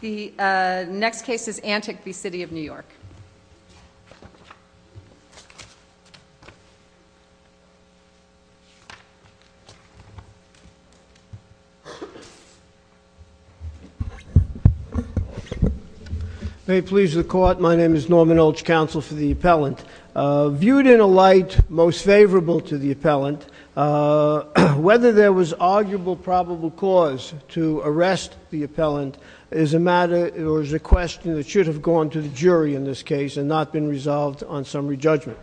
The next case is Antic v. City of New York. May it please the Court, my name is Norman Ulch, Counsel for the Appellant. Viewed in a light most favorable to the Appellant, whether there was arguable probable cause to arrest the Appellant is a matter or is a question that should have gone to the jury in this case and not been resolved on summary judgment.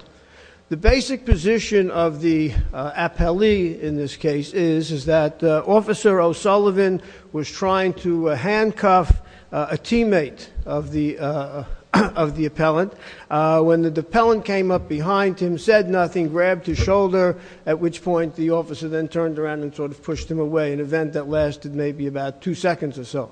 The basic position of the appellee in this case is that Officer O'Sullivan was trying to handcuff a teammate of the Appellant. When the Appellant came up behind him, said nothing, grabbed his shoulder, at which point the Officer then turned around and sort of pushed him away, an event that lasted maybe about two seconds or so.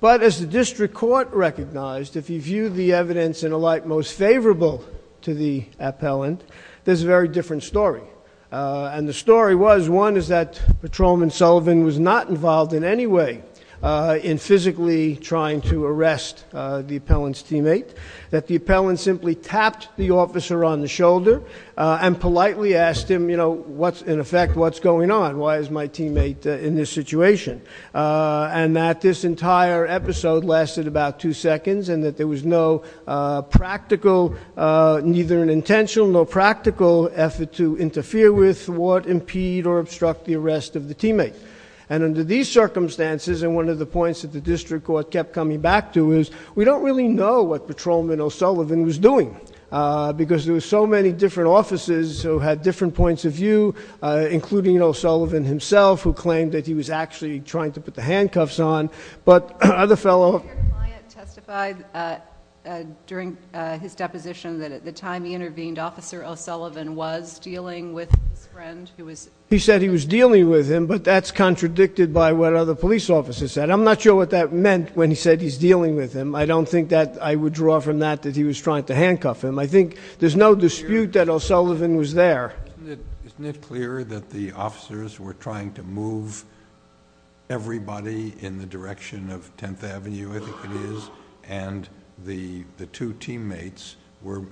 But as the District Court recognized, if you view the evidence in a light most favorable to the Appellant, there's a very different story. And the story was, one, is that Patrolman Sullivan was not involved in any way in physically trying to arrest the Appellant's teammate. That the Appellant simply tapped the Officer on the shoulder and politely asked him, in effect, what's going on? Why is my teammate in this situation? And that this entire episode lasted about two seconds and that there was no practical, neither an intentional nor practical effort to interfere with, thwart, impede, or obstruct the arrest of the teammate. And under these circumstances, and one of the points that the District Court kept coming back to, is we don't really know what Patrolman O'Sullivan was doing. Because there were so many different officers who had different points of view, including O'Sullivan himself, who claimed that he was actually trying to put the handcuffs on, but other fellow- Your client testified during his deposition that at the time he intervened, Officer O'Sullivan was dealing with his friend who was- He said he was dealing with him, but that's contradicted by what other police officers said. I'm not sure what that meant when he said he's dealing with him. I don't think that I would draw from that that he was trying to handcuff him. I think there's no dispute that O'Sullivan was there. Isn't it clear that the officers were trying to move everybody in the direction of 10th Avenue, I think it is, and the two teammates were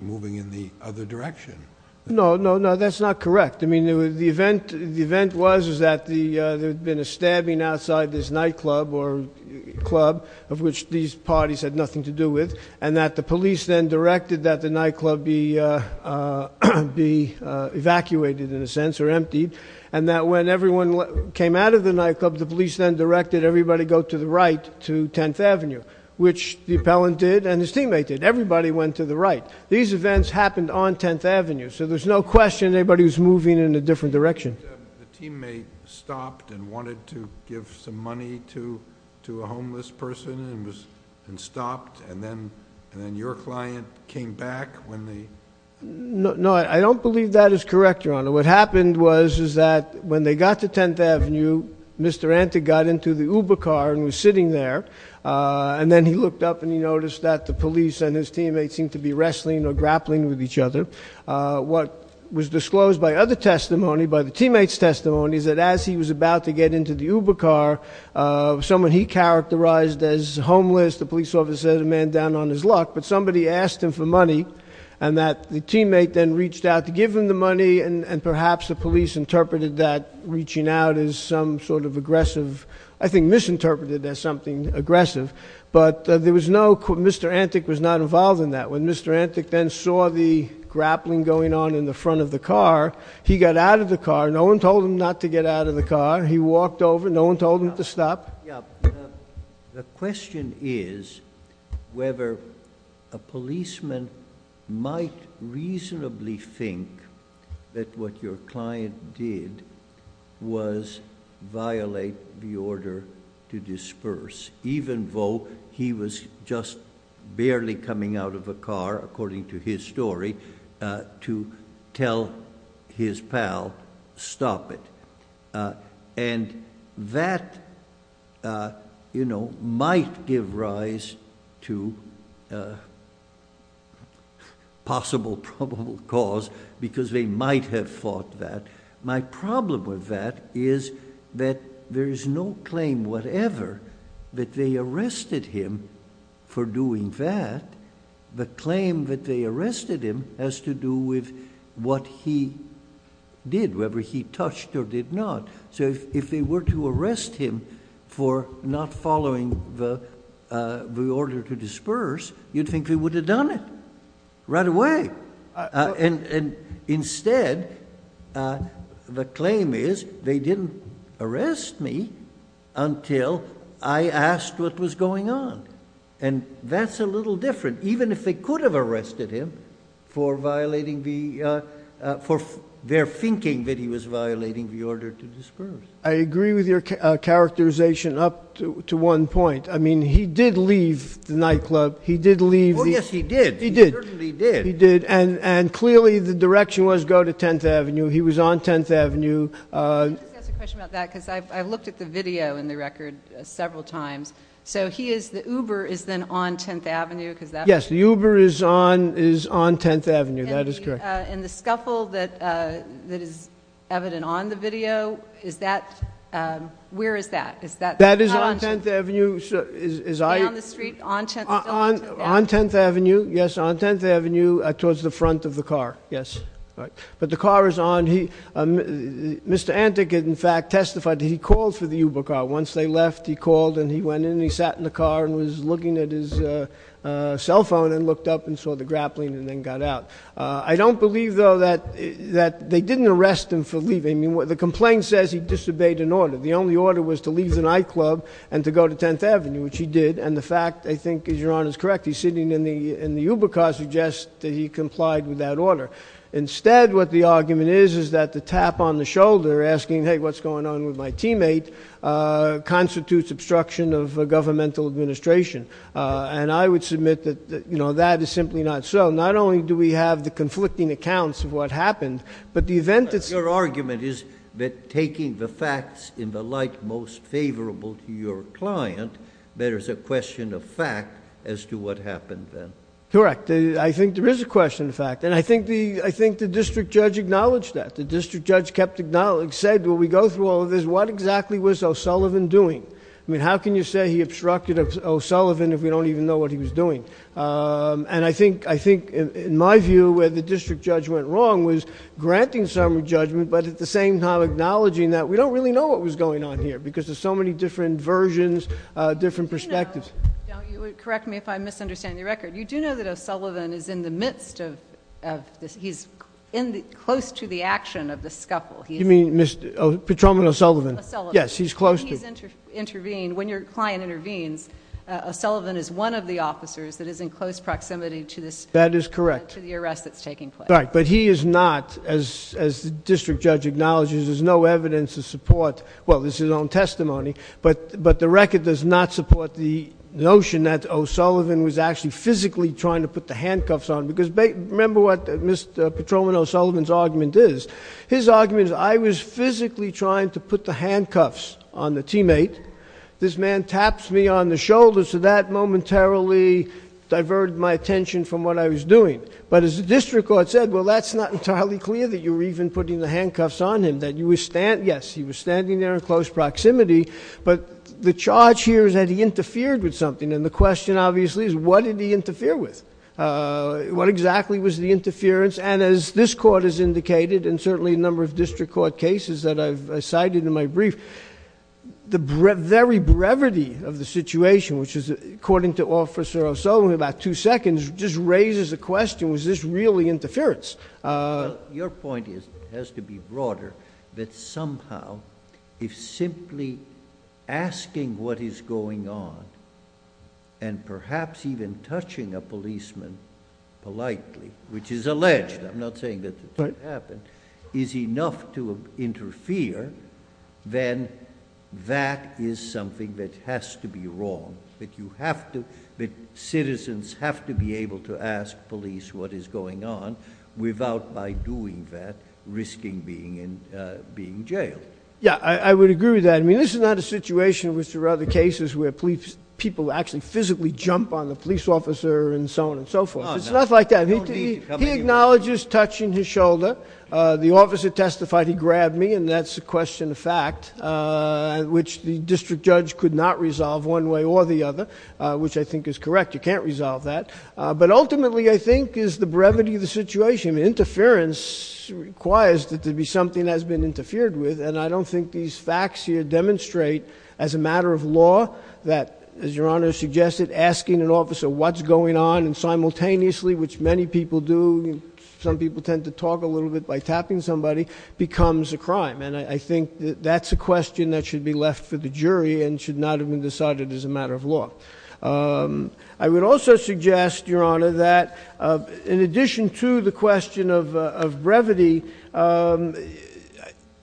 moving in the other direction? No, no, no, that's not correct. I mean, the event was that there had been a stabbing outside this nightclub or club, of which these parties had nothing to do with, and that the police then directed that the nightclub be evacuated, in a sense, or emptied, and that when everyone came out of the nightclub, the police then directed everybody go to the right to 10th Avenue, which the appellant did and his teammate did. Everybody went to the right. These events happened on 10th Avenue, so there's no question that everybody was moving in a different direction. The teammate stopped and wanted to give some money to a homeless person and stopped, and then your client came back when the... No, I don't believe that is correct, Your Honor. What happened was that when they got to 10th Avenue, Mr. Antic got into the Uber car and was sitting there, and then he looked up and he noticed that the police and his teammates seemed to be wrestling or grappling with each other. What was disclosed by other testimony, by the teammate's testimony, is that as he was about to get into the Uber car, someone he characterized as homeless, the police officer said, a man down on his luck, but somebody asked him for money, and that the teammate then reached out to give him the money, and perhaps the police interpreted that reaching out is some sort of aggressive... I think misinterpreted as something aggressive, but there was no... Mr. Antic was not involved in that. When Mr. Antic then saw the grappling going on in the front of the car, he got out of the car. No one told him not to get out of the car. He walked over. No one told him to stop. The question is whether a policeman might reasonably think that what your client did was violate the order to disperse, even though he was just barely coming out of a car, according to his story, to tell his pal, stop it. And that, you know, might give rise to possible probable cause because they might have fought that. My problem with that is that there is no claim whatever that they arrested him for doing that. The claim that they arrested him has to do with what he did, whether he touched or did not. So if they were to arrest him for not following the order to disperse, you'd think they would have done it right away. And instead, the claim is they didn't arrest me until I asked what was going on. And that's a little different, even if they could have arrested him for violating the for their thinking that he was violating the order to disperse. I agree with your characterization up to one point. I mean, he did leave the nightclub. He did leave. Yes, he did. He did. He did. And clearly the direction was go to 10th Avenue. He was on 10th Avenue. Can I just ask a question about that? Because I've looked at the video in the record several times. So he is, the Uber is then on 10th Avenue? Yes, the Uber is on 10th Avenue. That is correct. And the scuffle that is evident on the video, is that, where is that? That is on 10th Avenue. Down the street on 10th Avenue? On 10th Avenue, yes, on 10th Avenue towards the front of the car, yes. All right. But the car is on. Mr. Antic, in fact, testified that he called for the Uber car. Once they left, he called and he went in and he sat in the car and was looking at his cell phone and looked up and saw the grappling and then got out. I don't believe, though, that they didn't arrest him for leaving. The complaint says he disobeyed an order. The only order was to leave the nightclub and to go to 10th Avenue, which he did. And the fact, I think, Your Honor, is correct. He's sitting in the Uber car suggests that he complied with that order. Instead, what the argument is, is that the tap on the shoulder, asking, hey, what's going on with my teammate, constitutes obstruction of governmental administration. And I would submit that that is simply not so. Not only do we have the conflicting accounts of what happened, but the event that's as to what happened then. Correct. I think there is a question of fact. And I think the district judge acknowledged that. The district judge kept acknowledging, said, well, we go through all of this. What exactly was O'Sullivan doing? I mean, how can you say he obstructed O'Sullivan if we don't even know what he was doing? And I think, in my view, where the district judge went wrong was granting some judgment, but at the same time acknowledging that we don't really know what was going on here because there's so many different versions, different perspectives. Correct me if I misunderstand your record. You do know that O'Sullivan is in the midst of this. He's close to the action of the scuffle. You mean Petrone O'Sullivan? O'Sullivan. Yes, he's close to. He's intervened. When your client intervenes, O'Sullivan is one of the officers that is in close proximity to this. That is correct. To the arrest that's taking place. Right. But he is not, as the district judge acknowledges, there's no evidence to support. Well, this is his own testimony, but the record does not support the notion that O'Sullivan was actually physically trying to put the handcuffs on. Because remember what Mr. Petrone O'Sullivan's argument is. His argument is I was physically trying to put the handcuffs on the teammate. This man taps me on the shoulder, so that momentarily diverted my attention from what I was doing. But as the district court said, well, that's not entirely clear that you were even putting the handcuffs on him. Yes, he was standing there in close proximity, but the charge here is that he interfered with something. And the question, obviously, is what did he interfere with? What exactly was the interference? And as this court has indicated, and certainly a number of district court cases that I've cited in my brief, the very brevity of the situation, which is, according to Officer O'Sullivan, in about two seconds, just raises the question, was this really interference? Your point has to be broader, that somehow, if simply asking what is going on, and perhaps even touching a policeman politely, which is alleged, I'm not saying that it didn't happen, is enough to interfere, then that is something that has to be wrong. That citizens have to be able to ask police what is going on without, by doing that, risking being jailed. Yeah, I would agree with that. I mean, this is not a situation, which there are other cases, where people actually physically jump on the police officer and so on and so forth. It's not like that. He acknowledges touching his shoulder. The officer testified he grabbed me, and that's a question of fact, which the district judge could not resolve one way or the other, which I think is correct. You can't resolve that. But ultimately, I think, is the brevity of the situation. Interference requires that there be something that has been interfered with, and I don't think these facts here demonstrate, as a matter of law, that, as Your Honor suggested, asking an officer what's going on, and simultaneously, which many people do, some people tend to talk a little bit by tapping somebody, becomes a crime. And I think that that's a question that should be left for the jury and should not have been decided as a matter of law. I would also suggest, Your Honor, that in addition to the question of brevity,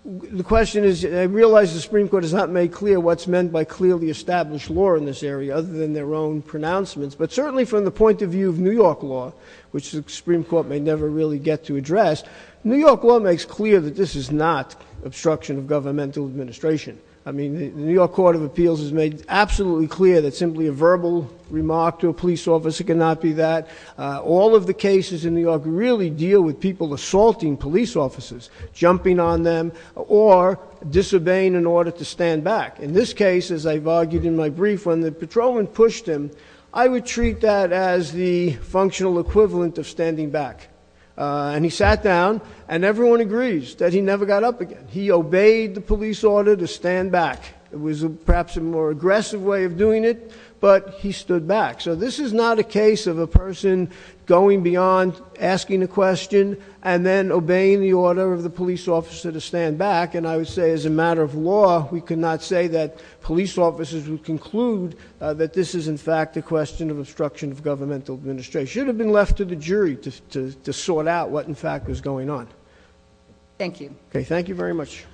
the question is, I realize the Supreme Court has not made clear what's meant by clearly established law in this area, other than their own pronouncements, but certainly from the point of view of New York law, which the Supreme Court may never really get to address, New York law makes clear that this is not obstruction of governmental administration. I mean, the New York Court of Appeals has made absolutely clear that simply a verbal remark to a police officer cannot be that. All of the cases in New York really deal with people assaulting police officers, jumping on them, or disobeying in order to stand back. In this case, as I've argued in my brief, when the patrolman pushed him, I would treat that as the functional equivalent of standing back. And he sat down, and everyone agrees that he never got up again. He obeyed the police order to stand back. It was perhaps a more aggressive way of doing it, but he stood back. So this is not a case of a person going beyond asking a question and then obeying the order of the police officer to stand back. And I would say, as a matter of law, we cannot say that police officers would conclude that this is, in fact, a question of obstruction of governmental administration. It should have been left to the jury to sort out what, in fact, was going on. Thank you. Okay, thank you very much.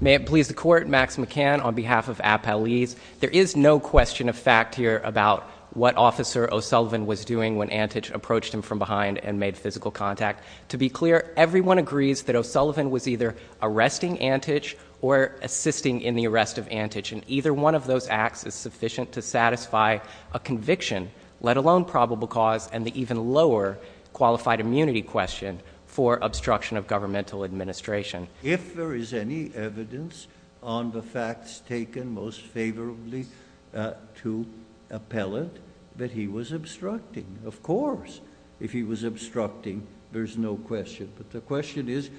May it please the Court, Max McCann on behalf of Appellees. There is no question of fact here about what Officer O'Sullivan was doing when Antich approached him from behind and made physical contact. To be clear, everyone agrees that O'Sullivan was either arresting Antich or assisting in the arrest of Antich. And either one of those acts is sufficient to satisfy a conviction, let alone probable cause, and the even lower qualified immunity question for obstruction of governmental administration. If there is any evidence on the facts taken most favorably to appellate, that he was obstructing. Of course, if he was obstructing, there's no question. But the question is,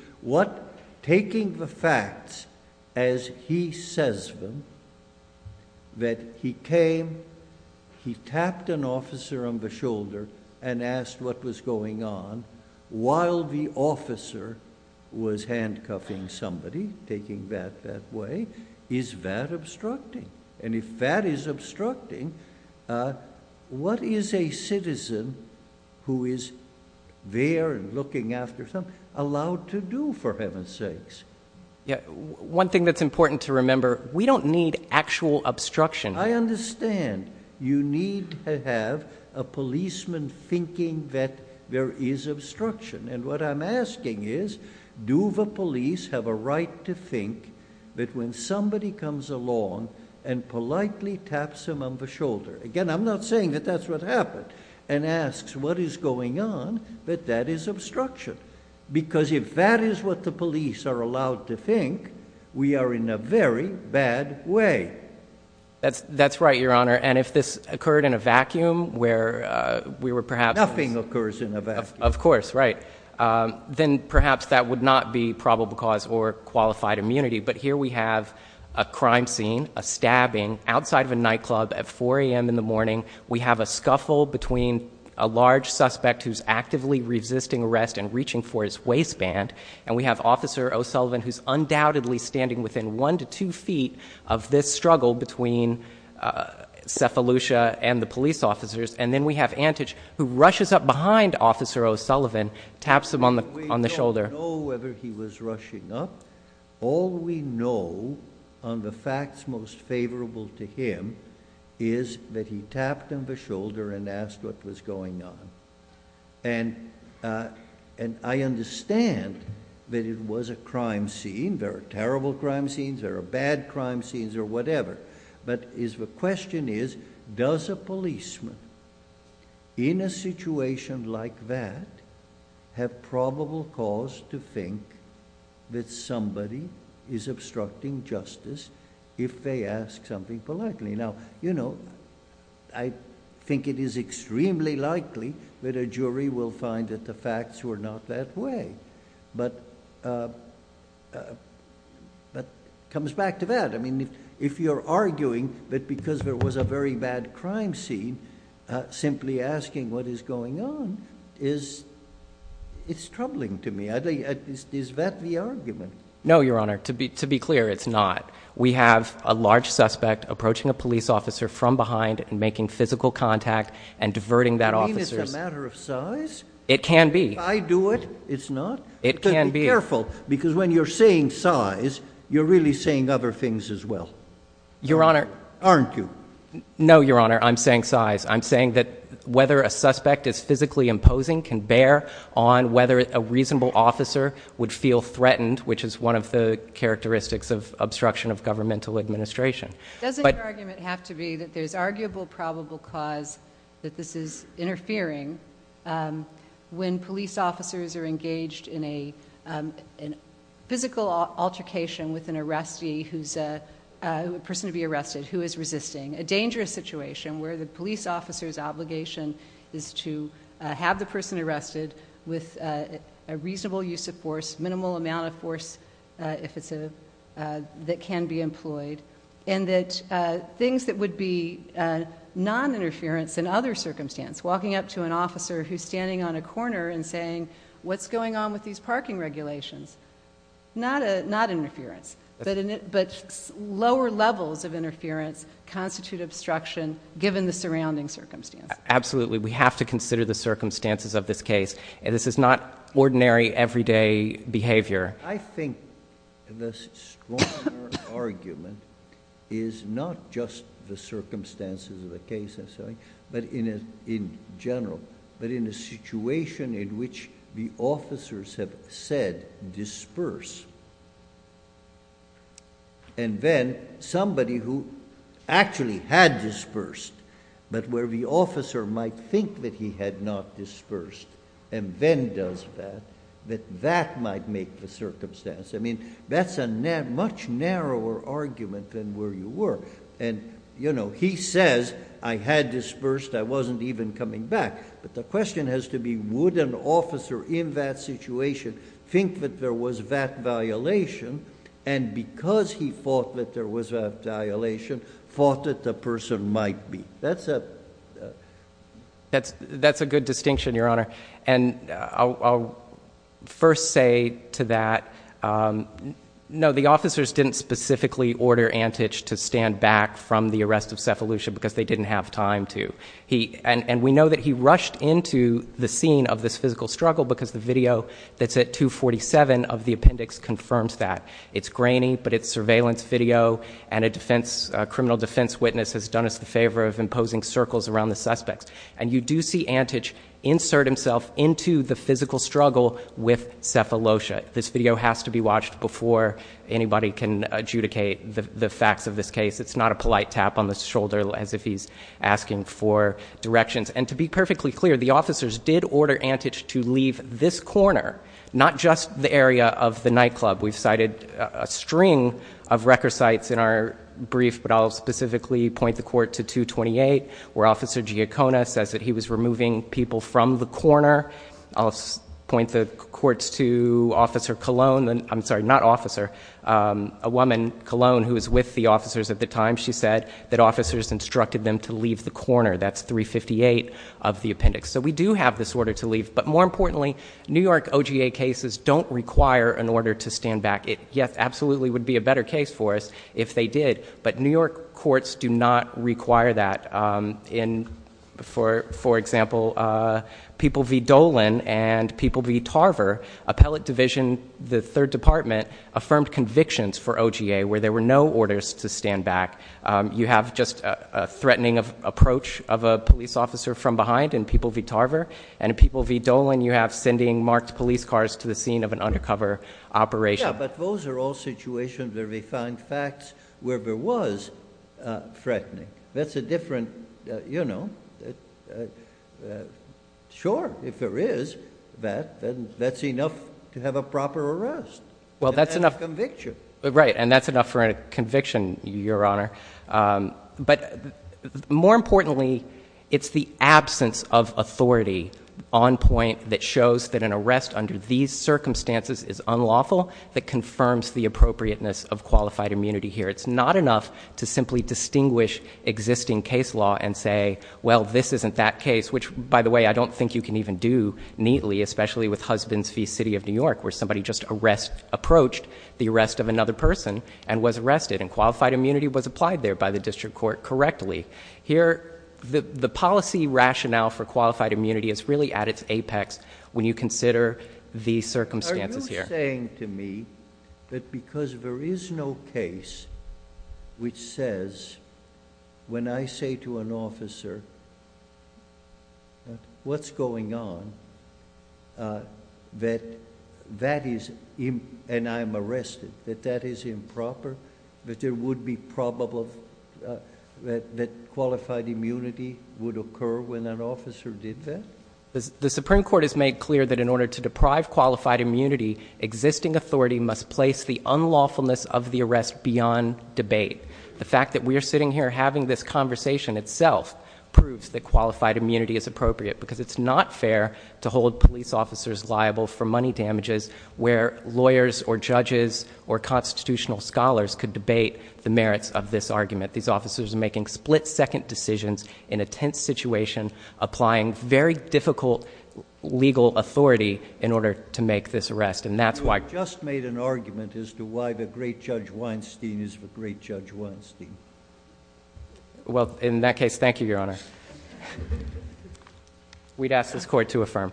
taking the facts as he says them, that he came, he tapped an officer on the shoulder and asked what was going on while the officer was handcuffing somebody, taking that that way. Is that obstructing? And if that is obstructing, what is a citizen who is there and looking after someone allowed to do, for heaven's sakes? Yeah, one thing that's important to remember, we don't need actual obstruction. I understand. You need to have a policeman thinking that there is obstruction. And what I'm asking is, do the police have a right to think that when somebody comes along and politely taps him on the shoulder, again, I'm not saying that that's what happened, and asks what is going on, that that is obstruction. Because if that is what the police are allowed to think, we are in a very bad way. That's right, Your Honor. And if this occurred in a vacuum where we were perhaps Nothing occurs in a vacuum. Of course, right. Then perhaps that would not be probable cause or qualified immunity. But here we have a crime scene, a stabbing outside of a nightclub at 4 a.m. in the morning. We have a scuffle between a large suspect who's actively resisting arrest and reaching for his waistband. And we have Officer O'Sullivan who's undoubtedly standing within one to two feet of this struggle between Sefa Lucia and the police officers. And then we have Antich who rushes up behind Officer O'Sullivan, taps him on the shoulder. We don't know whether he was rushing up. All we know on the facts most favorable to him is that he tapped him on the shoulder and asked what was going on. And I understand that it was a crime scene. There are terrible crime scenes. There are bad crime scenes or whatever. But the question is, does a policeman in a situation like that have probable cause to think that somebody is obstructing justice if they ask something politely? Now, you know, I think it is extremely likely that a jury will find that the facts were not that way. But it comes back to that. I mean, if you're arguing that because there was a very bad crime scene, simply asking what is going on is troubling to me. Is that the argument? No, Your Honor. To be clear, it's not. We have a large suspect approaching a police officer from behind and making physical contact and diverting that officer. You mean it's a matter of size? It can be. If I do it, it's not? It can be. Be careful, because when you're saying size, you're really saying other things as well. Your Honor. Aren't you? No, Your Honor. I'm saying size. I'm saying that whether a suspect is physically imposing can bear on whether a reasonable officer would feel threatened, which is one of the characteristics of obstruction of governmental administration. Doesn't your argument have to be that there's arguable probable cause that this is interfering when police officers are engaged in a physical altercation with an arrestee, a person to be arrested who is resisting, a dangerous situation where the police officer's obligation is to have the person arrested with a reasonable use of force, minimal amount of force that can be employed, and that things that would be non-interference in other circumstance, walking up to an officer who's standing on a corner and saying, what's going on with these parking regulations? Not interference, but lower levels of interference constitute obstruction given the surrounding circumstance. Absolutely. We have to consider the circumstances of this case. This is not ordinary, everyday behavior. I think the stronger argument is not just the circumstances of the case, but in general, but in a situation in which the officers have said disperse, and then somebody who actually had dispersed, but where the officer might think that he had not dispersed and then does that, that that might make the circumstance. That's a much narrower argument than where you were. He says, I had dispersed. I wasn't even coming back. But the question has to be, would an officer in that situation think that there was that violation, and because he thought that there was that violation, thought that the person might be? That's a good distinction, Your Honor. And I'll first say to that, no, the officers didn't specifically order Antich to stand back from the arrest of Sefalusha because they didn't have time to. And we know that he rushed into the scene of this physical struggle because the video that's at 247 of the appendix confirms that. It's grainy, but it's surveillance video, and a criminal defense witness has done us the favor of imposing circles around the suspects. And you do see Antich insert himself into the physical struggle with Sefalusha. This video has to be watched before anybody can adjudicate the facts of this case. It's not a polite tap on the shoulder as if he's asking for directions. And to be perfectly clear, the officers did order Antich to leave this corner, not just the area of the nightclub. We've cited a string of record sites in our brief, but I'll specifically point the court to 228 where Officer Giacona says that he was removing people from the corner. I'll point the courts to Officer Colon, I'm sorry, not officer, a woman, Colon, who was with the officers at the time, she said that officers instructed them to leave the corner. That's 358 of the appendix. So we do have this order to leave. But more importantly, New York OGA cases don't require an order to stand back. It absolutely would be a better case for us if they did, but New York courts do not require that. For example, People v. Dolan and People v. Tarver, appellate division, the third department, affirmed convictions for OGA where there were no orders to stand back. You have just a threatening approach of a police officer from behind in People v. Tarver, and in People v. Dolan, you have sending marked police cars to the scene of an undercover operation. Yeah, but those are all situations where they find facts where there was threatening. That's a different, you know, sure, if there is that, then that's enough to have a proper arrest. Well, that's enough conviction. Right. And that's enough for a conviction, Your Honor. But more importantly, it's the absence of authority on point that shows that an arrest under these circumstances is unlawful that confirms the appropriateness of qualified immunity here. It's not enough to simply distinguish existing case law and say, well, this isn't that case, which, by the way, I don't think you can even do neatly, especially with Husbands v. City of New York, where somebody just approached the arrest of another person and was arrested and qualified immunity was applied there by the district court correctly. Here, the policy rationale for qualified immunity is really at its apex when you consider the circumstances here. Are you saying to me that because there is no case which says, when I say to an officer, what's going on, that that is, and I'm arrested, that that is improper, that there would be probable that qualified immunity would occur when an officer did that? The Supreme Court has made clear that in order to deprive qualified immunity, existing authority must place the unlawfulness of the arrest beyond debate. The fact that we are sitting here having this conversation itself proves that qualified immunity is appropriate because it's not fair to hold police officers liable for money damages where lawyers or judges or constitutional scholars could debate the merits of this argument. These officers are making split second decisions in a tense situation, applying very difficult legal authority in order to make this arrest. And that's why I just made an argument as to why the great judge Weinstein is the great judge Weinstein. Well, in that case, thank you, Your Honor. We'd ask this court to affirm.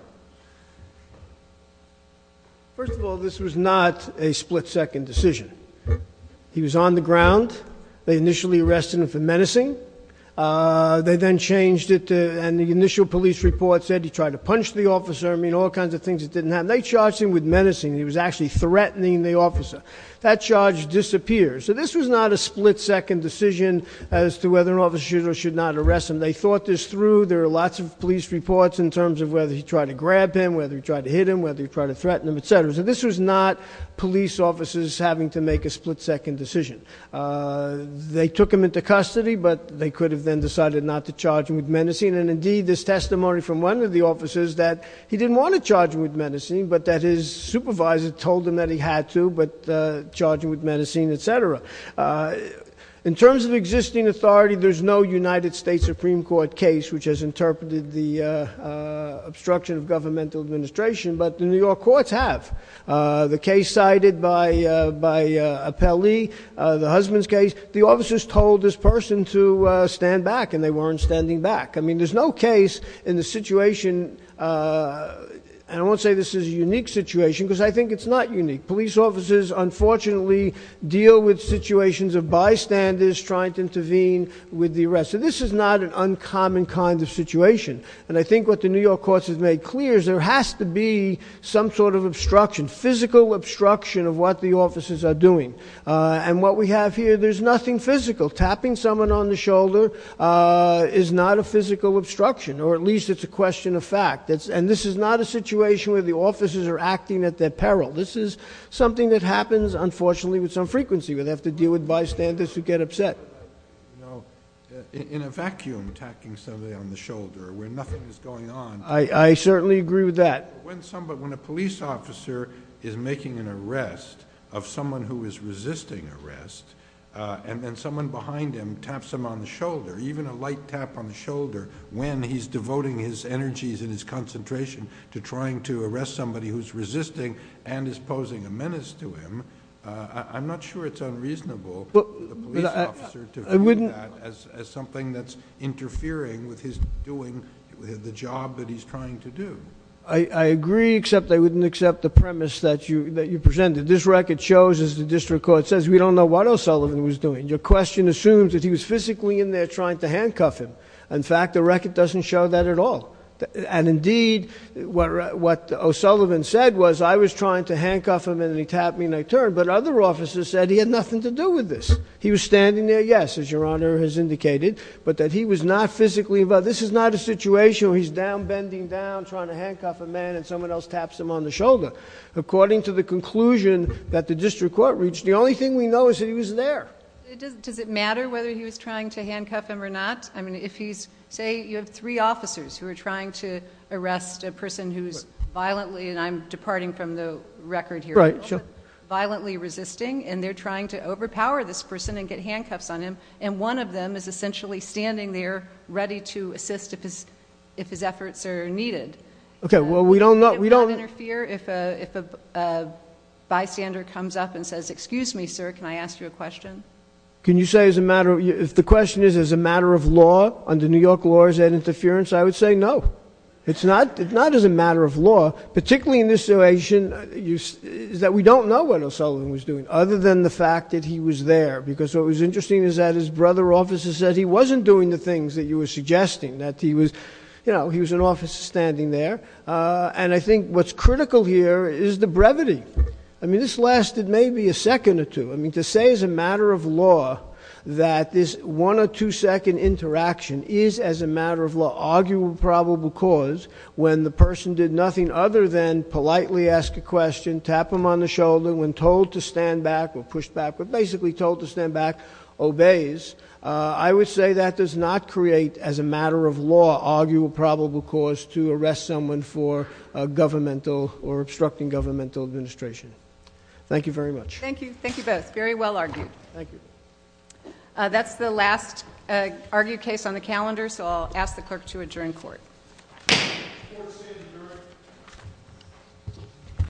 First of all, this was not a split second decision. He was on the ground. They initially arrested him for menacing. They then changed it. And the initial police report said he tried to punch the officer. I mean, all kinds of things that didn't happen. They charged him with menacing. He was actually threatening the officer. That charge disappears. So this was not a split second decision as to whether an officer should or should not arrest him. They thought this through. There are lots of police reports in terms of whether he tried to grab him, whether he tried to hit him, whether he tried to threaten him, et cetera. So this was not police officers having to make a split second decision. They took him into custody, but they could have then decided not to charge him with menacing. And, indeed, there's testimony from one of the officers that he didn't want to charge him with menacing, but that his supervisor told him that he had to, but charging with menacing, et cetera. In terms of existing authority, there's no United States Supreme Court case which has interpreted the obstruction of governmental administration, but the New York courts have. The case cited by Appellee, the husband's case, the officers told this person to stand back, and they weren't standing back. I mean, there's no case in the situation, and I won't say this is a unique situation, because I think it's not unique. Police officers, unfortunately, deal with situations of bystanders trying to intervene with the arrest. So this is not an uncommon kind of situation. And I think what the New York courts have made clear is there has to be some sort of obstruction, physical obstruction of what the officers are doing. And what we have here, there's nothing physical. Tapping someone on the shoulder is not a physical obstruction, or at least it's a question of fact. And this is not a situation where the officers are acting at their peril. This is something that happens, unfortunately, with some frequency, where they have to deal with bystanders who get upset. In a vacuum, tapping somebody on the shoulder, where nothing is going on. I certainly agree with that. When a police officer is making an arrest of someone who is resisting arrest, and then someone behind him taps him on the shoulder, even a light tap on the shoulder, when he's devoting his energies and his concentration to trying to arrest somebody who's resisting and is posing a menace to him, I'm not sure it's unreasonable for the police officer to view that as something that's interfering with his doing the job that he's trying to do. I agree, except I wouldn't accept the premise that you presented. This record shows, as the district court says, we don't know what O'Sullivan was doing. Your question assumes that he was physically in there trying to handcuff him. In fact, the record doesn't show that at all. And indeed, what O'Sullivan said was, I was trying to handcuff him and he tapped me and I turned, but other officers said he had nothing to do with this. He was standing there, yes, as your Honor has indicated, but that he was not physically involved. This is not a situation where he's down, bending down, trying to handcuff a man, and someone else taps him on the shoulder. According to the conclusion that the district court reached, the only thing we know is that he was there. Does it matter whether he was trying to handcuff him or not? I mean, say you have three officers who are trying to arrest a person who's violently, and I'm departing from the record here, violently resisting, and they're trying to overpower this person and get handcuffs on him, and one of them is essentially standing there ready to assist if his efforts are needed. Okay, well, we don't know. Would it not interfere if a bystander comes up and says, excuse me, sir, can I ask you a question? Can you say as a matter of, if the question is as a matter of law, under New York laws, that interference, I would say no. It's not as a matter of law, particularly in this situation, is that we don't know what O'Sullivan was doing other than the fact that he was there, because what was interesting is that his brother officer said he wasn't doing the things that you were suggesting, that he was, you know, he was an officer standing there. And I think what's critical here is the brevity. I mean, this lasted maybe a second or two. I mean, to say as a matter of law that this one- or two-second interaction is as a matter of law, arguably probable cause, when the person did nothing other than politely ask a question, tap him on the shoulder, when told to stand back or push back or basically told to stand back, obeys, I would say that does not create, as a matter of law, arguable probable cause to arrest someone for governmental or obstructing governmental administration. Thank you very much. Thank you. Thank you both. Very well argued. Thank you. That's the last argued case on the calendar, so I'll ask the clerk to adjourn court. Court is adjourned.